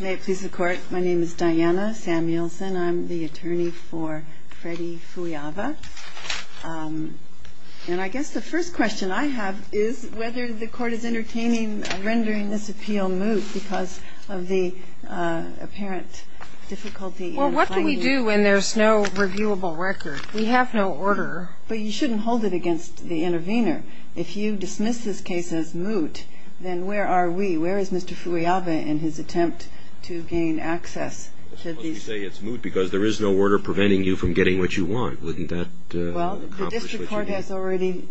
May it please the court, my name is Diana Samuelson. I'm the attorney for Freddy Fuiyaba. And I guess the first question I have is whether the court is entertaining rendering this appeal moot because of the apparent difficulty in finding... Well, what do we do when there's no reviewable record? We have no order. But you shouldn't hold it against the intervener. If you dismiss this case as moot, then where are we? In his attempt to gain access to these... But you say it's moot because there is no order preventing you from getting what you want. Wouldn't that... Well, the district court has already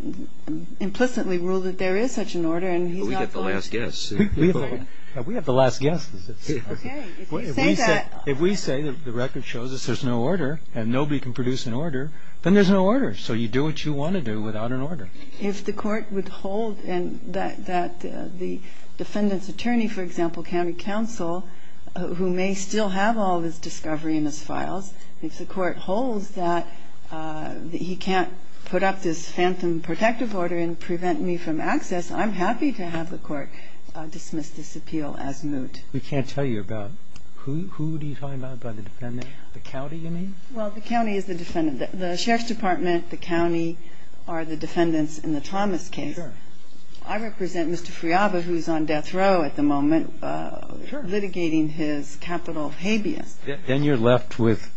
implicitly ruled that there is such an order and he's not... But we get the last guess. We have the last guess. Okay, if you say that... If we say that the record shows us there's no order and nobody can produce an order, then there's no order. So you do what you want to do without an order. If the court would hold that the defendant's attorney, for example, county counsel, who may still have all of his discovery in his files, if the court holds that he can't put up this phantom protective order and prevent me from access, I'm happy to have the court dismiss this appeal as moot. We can't tell you about... Who do you tell me about the defendant? The county, you mean? Well, the county is the defendant. The sheriff's department, the county are the defendants in the Thomas case. I represent Mr. Friaba, who's on death row at the moment, litigating his capital habeas. Then you're left with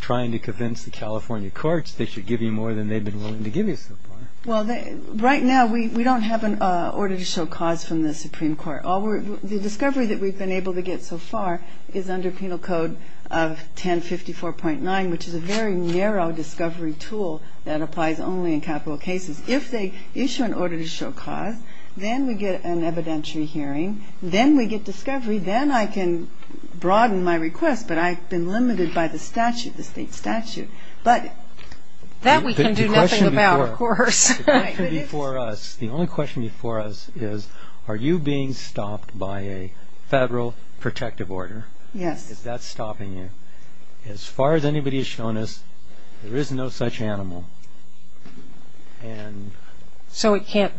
trying to convince the California courts they should give you more than they've been willing to give you so far. Well, right now we don't have an order to show cause from the Supreme Court. The discovery that we've been able to get so far is under penal code of 1054.9, which is a very narrow discovery tool that applies only in capital cases. If they issue an order to show cause, then we get an evidentiary hearing, then we get discovery, then I can broaden my request, but I've been limited by the statute, the state statute. The only question before us is, are you being stopped by a federal protective order? Yes. Is that stopping you? As far as anybody has shown us, there is no such animal. So it can't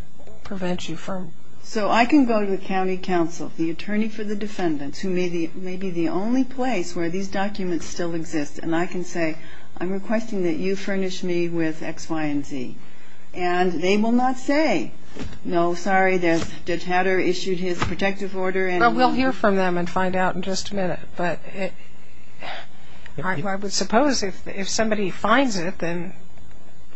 prevent you from... So I can go to the county council, the attorney for the defendants, who may be the only place where these documents still exist, and I can say, I'm requesting that you furnish me with X, Y, and Z. And they will not say, no, sorry, Judge Hatter issued his protective order and... Well, we'll hear from them and find out in just a minute. But I would suppose if somebody finds it, then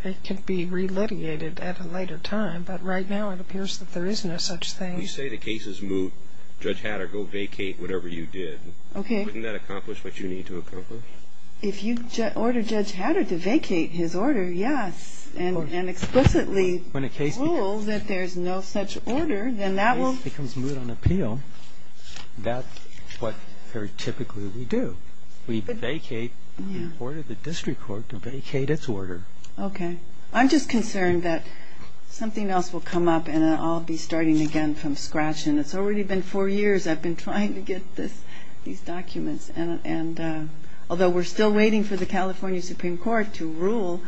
it can be re-litigated at a later time. But right now it appears that there is no such thing. You say the case is moot. Judge Hatter, go vacate whatever you did. Okay. Wouldn't that accomplish what you need to accomplish? If you order Judge Hatter to vacate his order, yes, and explicitly told that there's no such order, then that will... If the case becomes moot on appeal, that's what very typically we do. We vacate the order of the district court to vacate its order. Okay. I'm just concerned that something else will come up, and I'll be starting again from scratch. I'll start with the California Supreme Court. Because I don't think it's been a good decision. It's already been four years I've been trying to get these documents. And although we're still waiting for the California Supreme Court to rule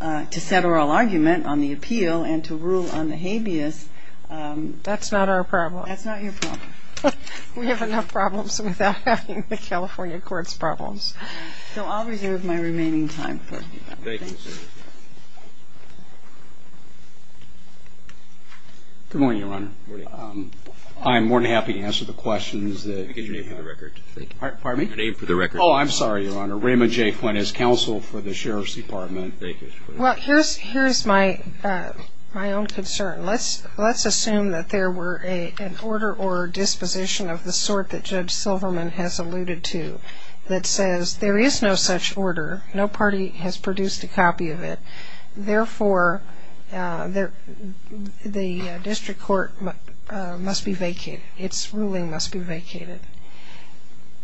to set oral argument on the appeal and to rule on the habeas... That's not our problem. That's not your problem. We have enough problems without having the California court's problems. So I'll reserve my remaining time for... Thank you. Good morning, Your Honor. Good morning. I'm more than happy to answer the questions that... Can I get your name for the record? Pardon me? Your name for the record. Oh, I'm sorry, Your Honor. Raymond J. Flinn is counsel for the Sheriff's Department. Thank you, Mr. Flinn. Well, here's my own concern. Let's assume that there were an order or disposition of the sort that Judge Silverman has alluded to that says there is no such order, no party has produced a copy of it, therefore the district court must be vacated, its ruling must be vacated.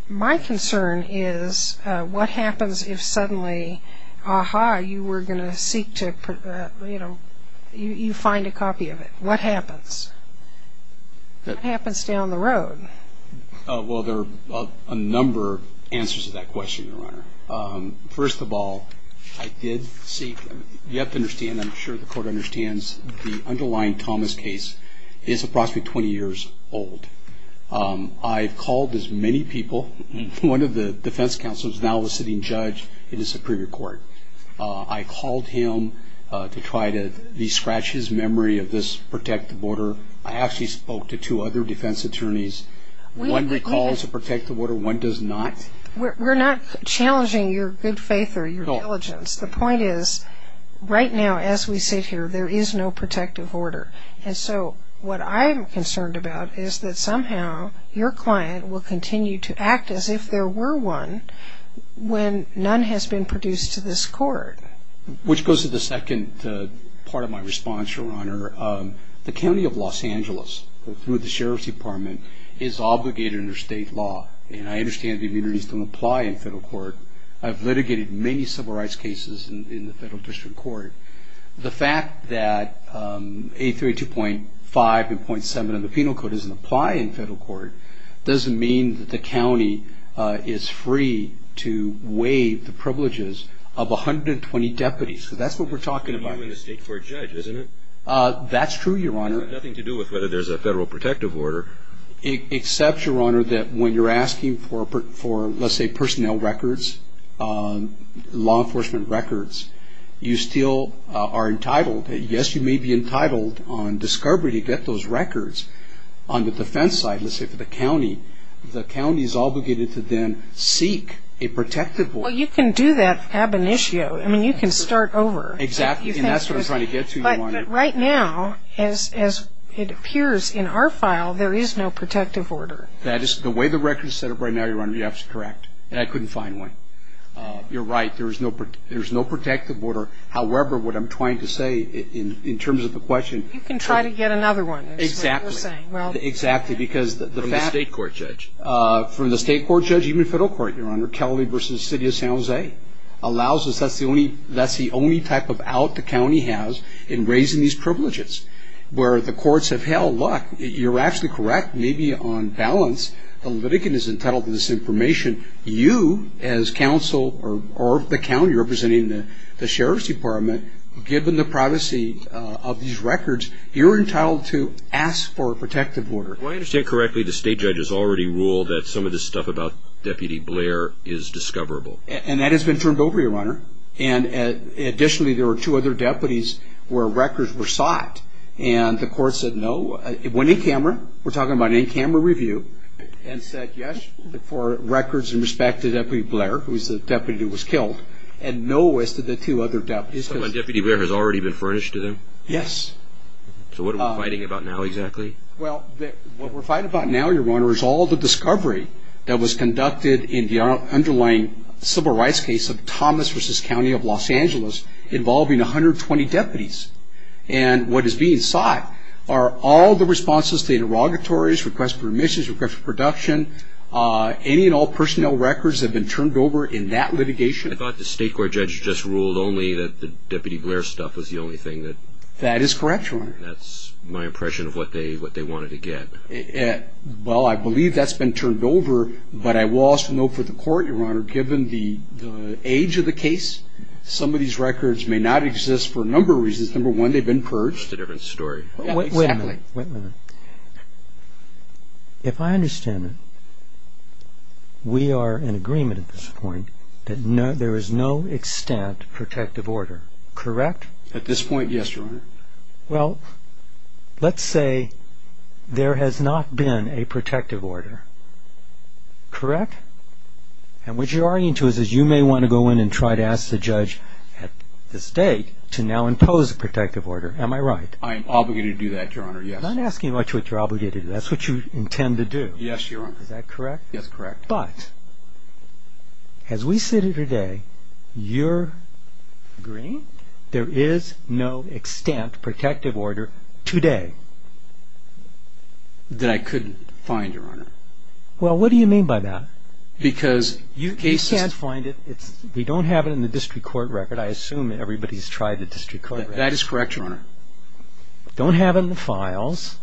My concern is what happens if suddenly, aha, you were going to seek to, you know, you find a copy of it. What happens? What happens down the road? Well, there are a number of answers to that question, Your Honor. First of all, I did seek, you have to understand, I'm sure the court understands, the underlying Thomas case is approximately 20 years old. I've called as many people. One of the defense counsels is now a sitting judge in the Supreme Court. I called him to try to de-scratch his memory of this protective order. I actually spoke to two other defense attorneys. One recalls a protective order, one does not. We're not challenging your good faith or your diligence. The point is right now as we sit here, there is no protective order. And so what I'm concerned about is that somehow your client will continue to act as if there were one when none has been produced to this court. Which goes to the second part of my response, Your Honor. The county of Los Angeles, through the sheriff's department, is obligated under state law. And I understand the immunities don't apply in federal court. I've litigated many civil rights cases in the federal district court. The fact that 832.5 and .7 of the penal code doesn't apply in federal court doesn't mean that the county is free to waive the privileges of 120 deputies. So that's what we're talking about. That's true, Your Honor. Nothing to do with whether there's a federal protective order. Except, Your Honor, that when you're asking for, let's say, personnel records, law enforcement records, you still are entitled, yes, you may be entitled on discovery to get those records. On the defense side, let's say for the county, the county is obligated to then seek a protective order. Well, you can do that ab initio. I mean, you can start over. Exactly. And that's what I'm trying to get to, Your Honor. But right now, as it appears in our file, there is no protective order. That is the way the record is set up right now, Your Honor. You're absolutely correct. And I couldn't find one. You're right. There's no protective order. However, what I'm trying to say in terms of the question. You can try to get another one is what you're saying. Exactly. Exactly. From the state court judge. From the state court judge, even federal court, Your Honor. allows us, that's the only type of out the county has in raising these privileges. Where the courts have held, look, you're absolutely correct. Maybe on balance, the litigant is entitled to this information. You, as counsel or the county representing the sheriff's department, given the privacy of these records, you're entitled to ask for a protective order. Do I understand correctly the state judge has already ruled that some of this stuff about Deputy Blair is discoverable? And that has been turned over, Your Honor. And additionally, there were two other deputies where records were sought. And the court said no. It went in camera. We're talking about an in-camera review. And said yes for records in respect to Deputy Blair, who was the deputy who was killed, and no as to the two other deputies. So Deputy Blair has already been furnished to them? Yes. So what are we fighting about now exactly? Well, what we're fighting about now, Your Honor, is all the discovery that was conducted in the underlying civil rights case of Thomas v. County of Los Angeles, involving 120 deputies. And what is being sought are all the responses to the derogatories, request for remissions, request for production. Any and all personnel records have been turned over in that litigation. I thought the state court judge just ruled only that the Deputy Blair stuff was the only thing that. That is correct, Your Honor. That's my impression of what they wanted to get. Well, I believe that's been turned over, but I will also note for the court, Your Honor, given the age of the case, some of these records may not exist for a number of reasons. Number one, they've been purged. That's a different story. Wait a minute. Wait a minute. If I understand it, we are in agreement at this point that there is no extant protective order, correct? At this point, yes, Your Honor. Well, let's say there has not been a protective order, correct? And what you're arguing to is you may want to go in and try to ask the judge at this date to now impose a protective order. Am I right? I am obligated to do that, Your Honor, yes. I'm not asking what you're obligated to do. That's what you intend to do. Yes, Your Honor. Is that correct? Yes, correct. But as we sit here today, you're agreeing there is no extant protective order today. That I couldn't find, Your Honor. Well, what do you mean by that? Because the case is – You can't find it. We don't have it in the district court record. I assume everybody's tried the district court record. That is correct, Your Honor. Don't have it in the files.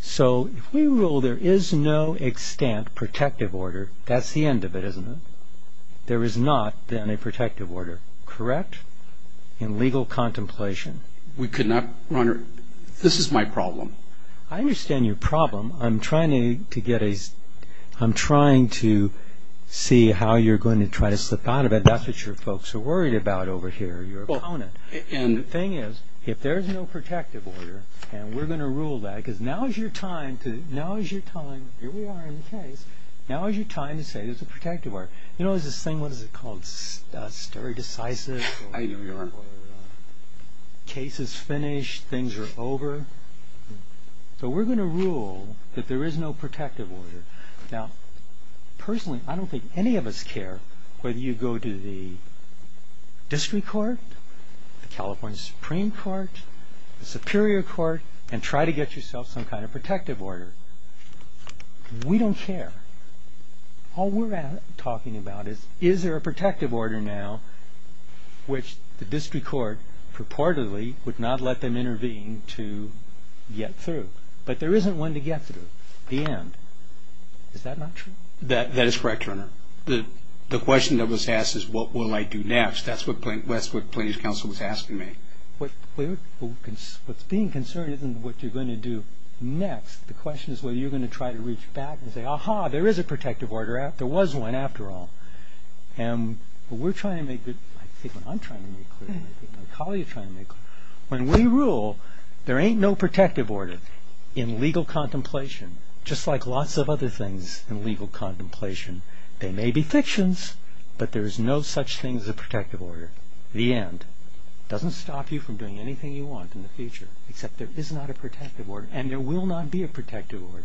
So if we rule there is no extant protective order, that's the end of it, isn't it? There is not, then, a protective order, correct? In legal contemplation. We could not, Your Honor – this is my problem. I understand your problem. I'm trying to get a – I'm trying to see how you're going to try to slip out of it. That's what your folks are worried about over here, your opponent. And the thing is, if there is no protective order, and we're going to rule that, because now is your time to – now is your time – here we are in the case. Now is your time to say there's a protective order. You know, there's this thing, what is it called? Stare decisive? I know, Your Honor. Case is finished. Things are over. So we're going to rule that there is no protective order. Now, personally, I don't think any of us care whether you go to the district court, the California Supreme Court, the Superior Court, and try to get yourself some kind of protective order. We don't care. All we're talking about is, is there a protective order now, which the district court purportedly would not let them intervene to get through. But there isn't one to get through. The end. Is that not true? That is correct, Your Honor. The question that was asked is, what will I do next? That's what Plaintiff's Counsel was asking me. What's being concerned isn't what you're going to do next. The question is whether you're going to try to reach back and say, ah-ha, there is a protective order. There was one, after all. And we're trying to make – I think what I'm trying to make clear, I think what my colleague is trying to make clear, when we rule, there ain't no protective order in legal contemplation, just like lots of other things in legal contemplation. They may be fictions, but there is no such thing as a protective order. The end. It doesn't stop you from doing anything you want in the future, except there is not a protective order, and there will not be a protective order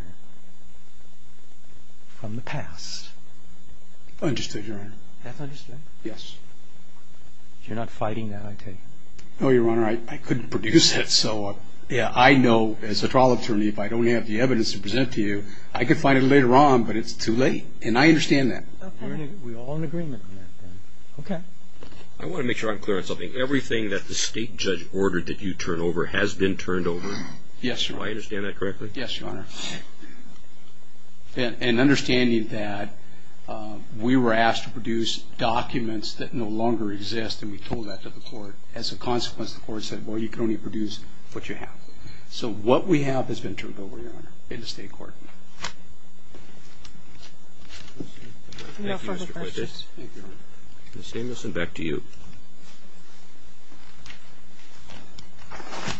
from the past. Understood, Your Honor. That's understood? Yes. You're not fighting that, I take it? No, Your Honor. I couldn't produce it, so I know, as a trial attorney, if I don't have the evidence to present to you, I could find it later on, but it's too late. And I understand that. We're all in agreement on that, then. Okay. I want to make sure I'm clear on something. Everything that the state judge ordered that you turn over has been turned over? Yes, Your Honor. Do I understand that correctly? Yes, Your Honor. And understanding that we were asked to produce documents that no longer exist, and we told that to the court, as a consequence, the court said, well, you can only produce what you have. So what we have has been turned over, Your Honor, in the state court. Thank you, Mr. Quintus. No further questions. Thank you, Your Honor. Ms. Samuelson, back to you.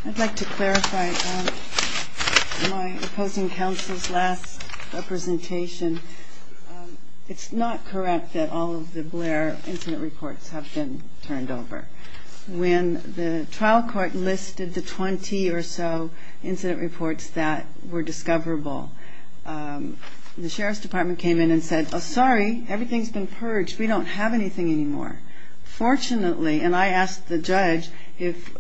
I'd like to clarify my opposing counsel's last representation. It's not correct that all of the Blair incident reports have been turned over. When the trial court listed the 20 or so incident reports that were discoverable, the sheriff's department came in and said, oh, sorry, everything's been purged. We don't have anything anymore. Fortunately, and I asked the judge if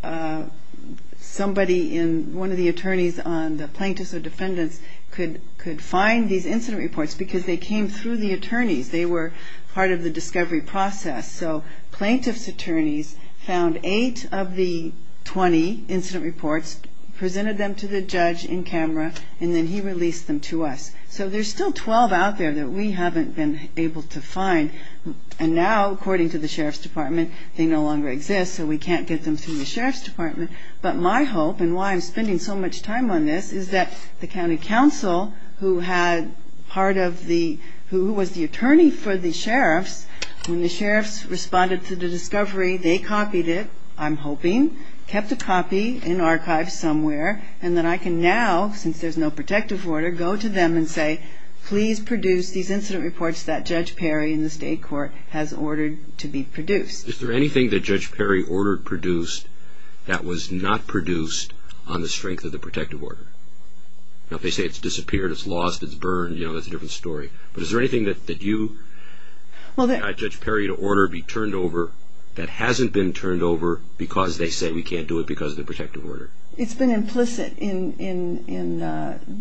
somebody in one of the attorneys on the plaintiffs or defendants could find these incident reports because they came through the attorneys. They were part of the discovery process. So plaintiff's attorneys found eight of the 20 incident reports, presented them to the judge in camera, and then he released them to us. So there's still 12 out there that we haven't been able to find. And now, according to the sheriff's department, they no longer exist, so we can't get them through the sheriff's department. But my hope, and why I'm spending so much time on this, is that the county counsel who was the attorney for the sheriffs, when the sheriffs responded to the discovery, they copied it, I'm hoping, kept a copy in archives somewhere, and then I can now, since there's no protective order, go to them and say, please produce these incident reports that Judge Perry in the state court has ordered to be produced. Is there anything that Judge Perry ordered produced that was not produced on the strength of the protective order? Now, if they say it's disappeared, it's lost, it's burned, you know, that's a different story. But is there anything that you asked Judge Perry to order be turned over that hasn't been turned over because they say we can't do it because of the protective order? It's been implicit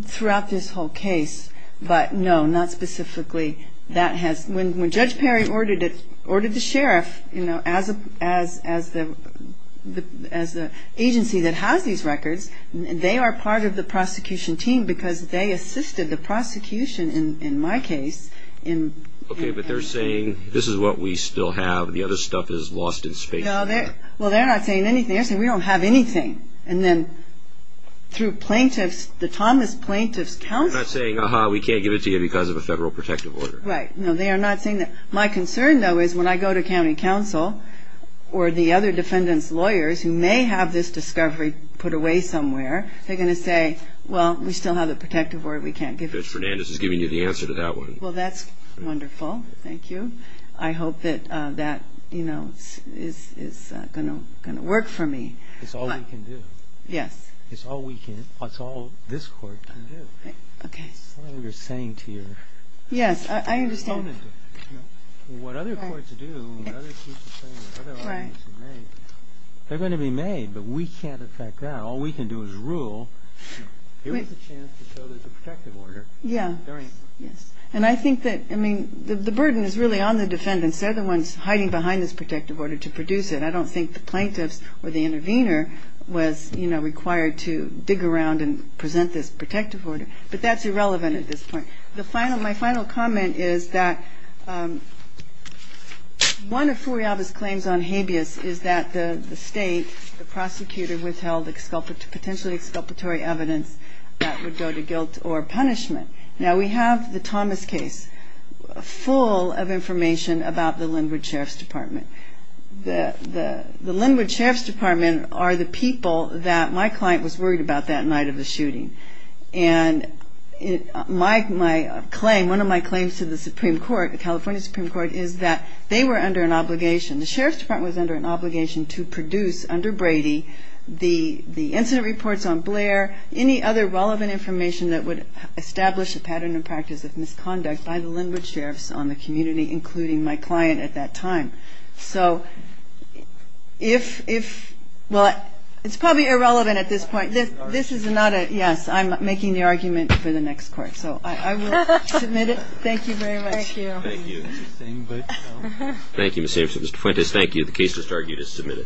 throughout this whole case, but no, not specifically. When Judge Perry ordered the sheriff, you know, as the agency that has these records, they are part of the prosecution team because they assisted the prosecution in my case. Okay, but they're saying this is what we still have and the other stuff is lost in space. Well, they're not saying anything. They're saying we don't have anything. And then through plaintiffs, the Thomas Plaintiff's counsel They're not saying, aha, we can't give it to you because of a federal protective order. Right. No, they are not saying that. My concern, though, is when I go to county counsel or the other defendants' lawyers who may have this discovery put away somewhere, they're going to say, well, we still have the protective order. We can't give it to you. Judge Fernandez is giving you the answer to that one. Well, that's wonderful. Thank you. I hope that that, you know, is going to work for me. It's all we can do. Yes. It's all we can do. It's all this Court can do. Okay. It's all we're saying to you. Yes, I understand. What other courts do, what other people say, what other arguments are made, they're going to be made, but we can't affect that. All we can do is rule. Here's a chance to show there's a protective order. Yeah. And I think that, I mean, the burden is really on the defendants. They're the ones hiding behind this protective order to produce it. I don't think the plaintiffs or the intervener was, you know, required to dig around and present this protective order. But that's irrelevant at this point. My final comment is that one of Furiaba's claims on habeas is that the state, the prosecutor, withheld potentially exculpatory evidence that would go to guilt or punishment. Now, we have the Thomas case full of information about the Linwood Sheriff's Department. The Linwood Sheriff's Department are the people that my client was worried about that night of the shooting. And my claim, one of my claims to the Supreme Court, the California Supreme Court, is that they were under an obligation, the Sheriff's Department was under an obligation to produce, under Brady, the incident reports on Blair, any other relevant information that would establish a pattern and practice of misconduct by the Linwood Sheriffs on the community, including my client at that time. So if, well, it's probably irrelevant at this point. This is not a, yes, I'm making the argument for the next court. So I will submit it. Thank you very much. Thank you. Thank you, Ms. Samson. Mr. Fuentes, thank you. The case is argued as submitted.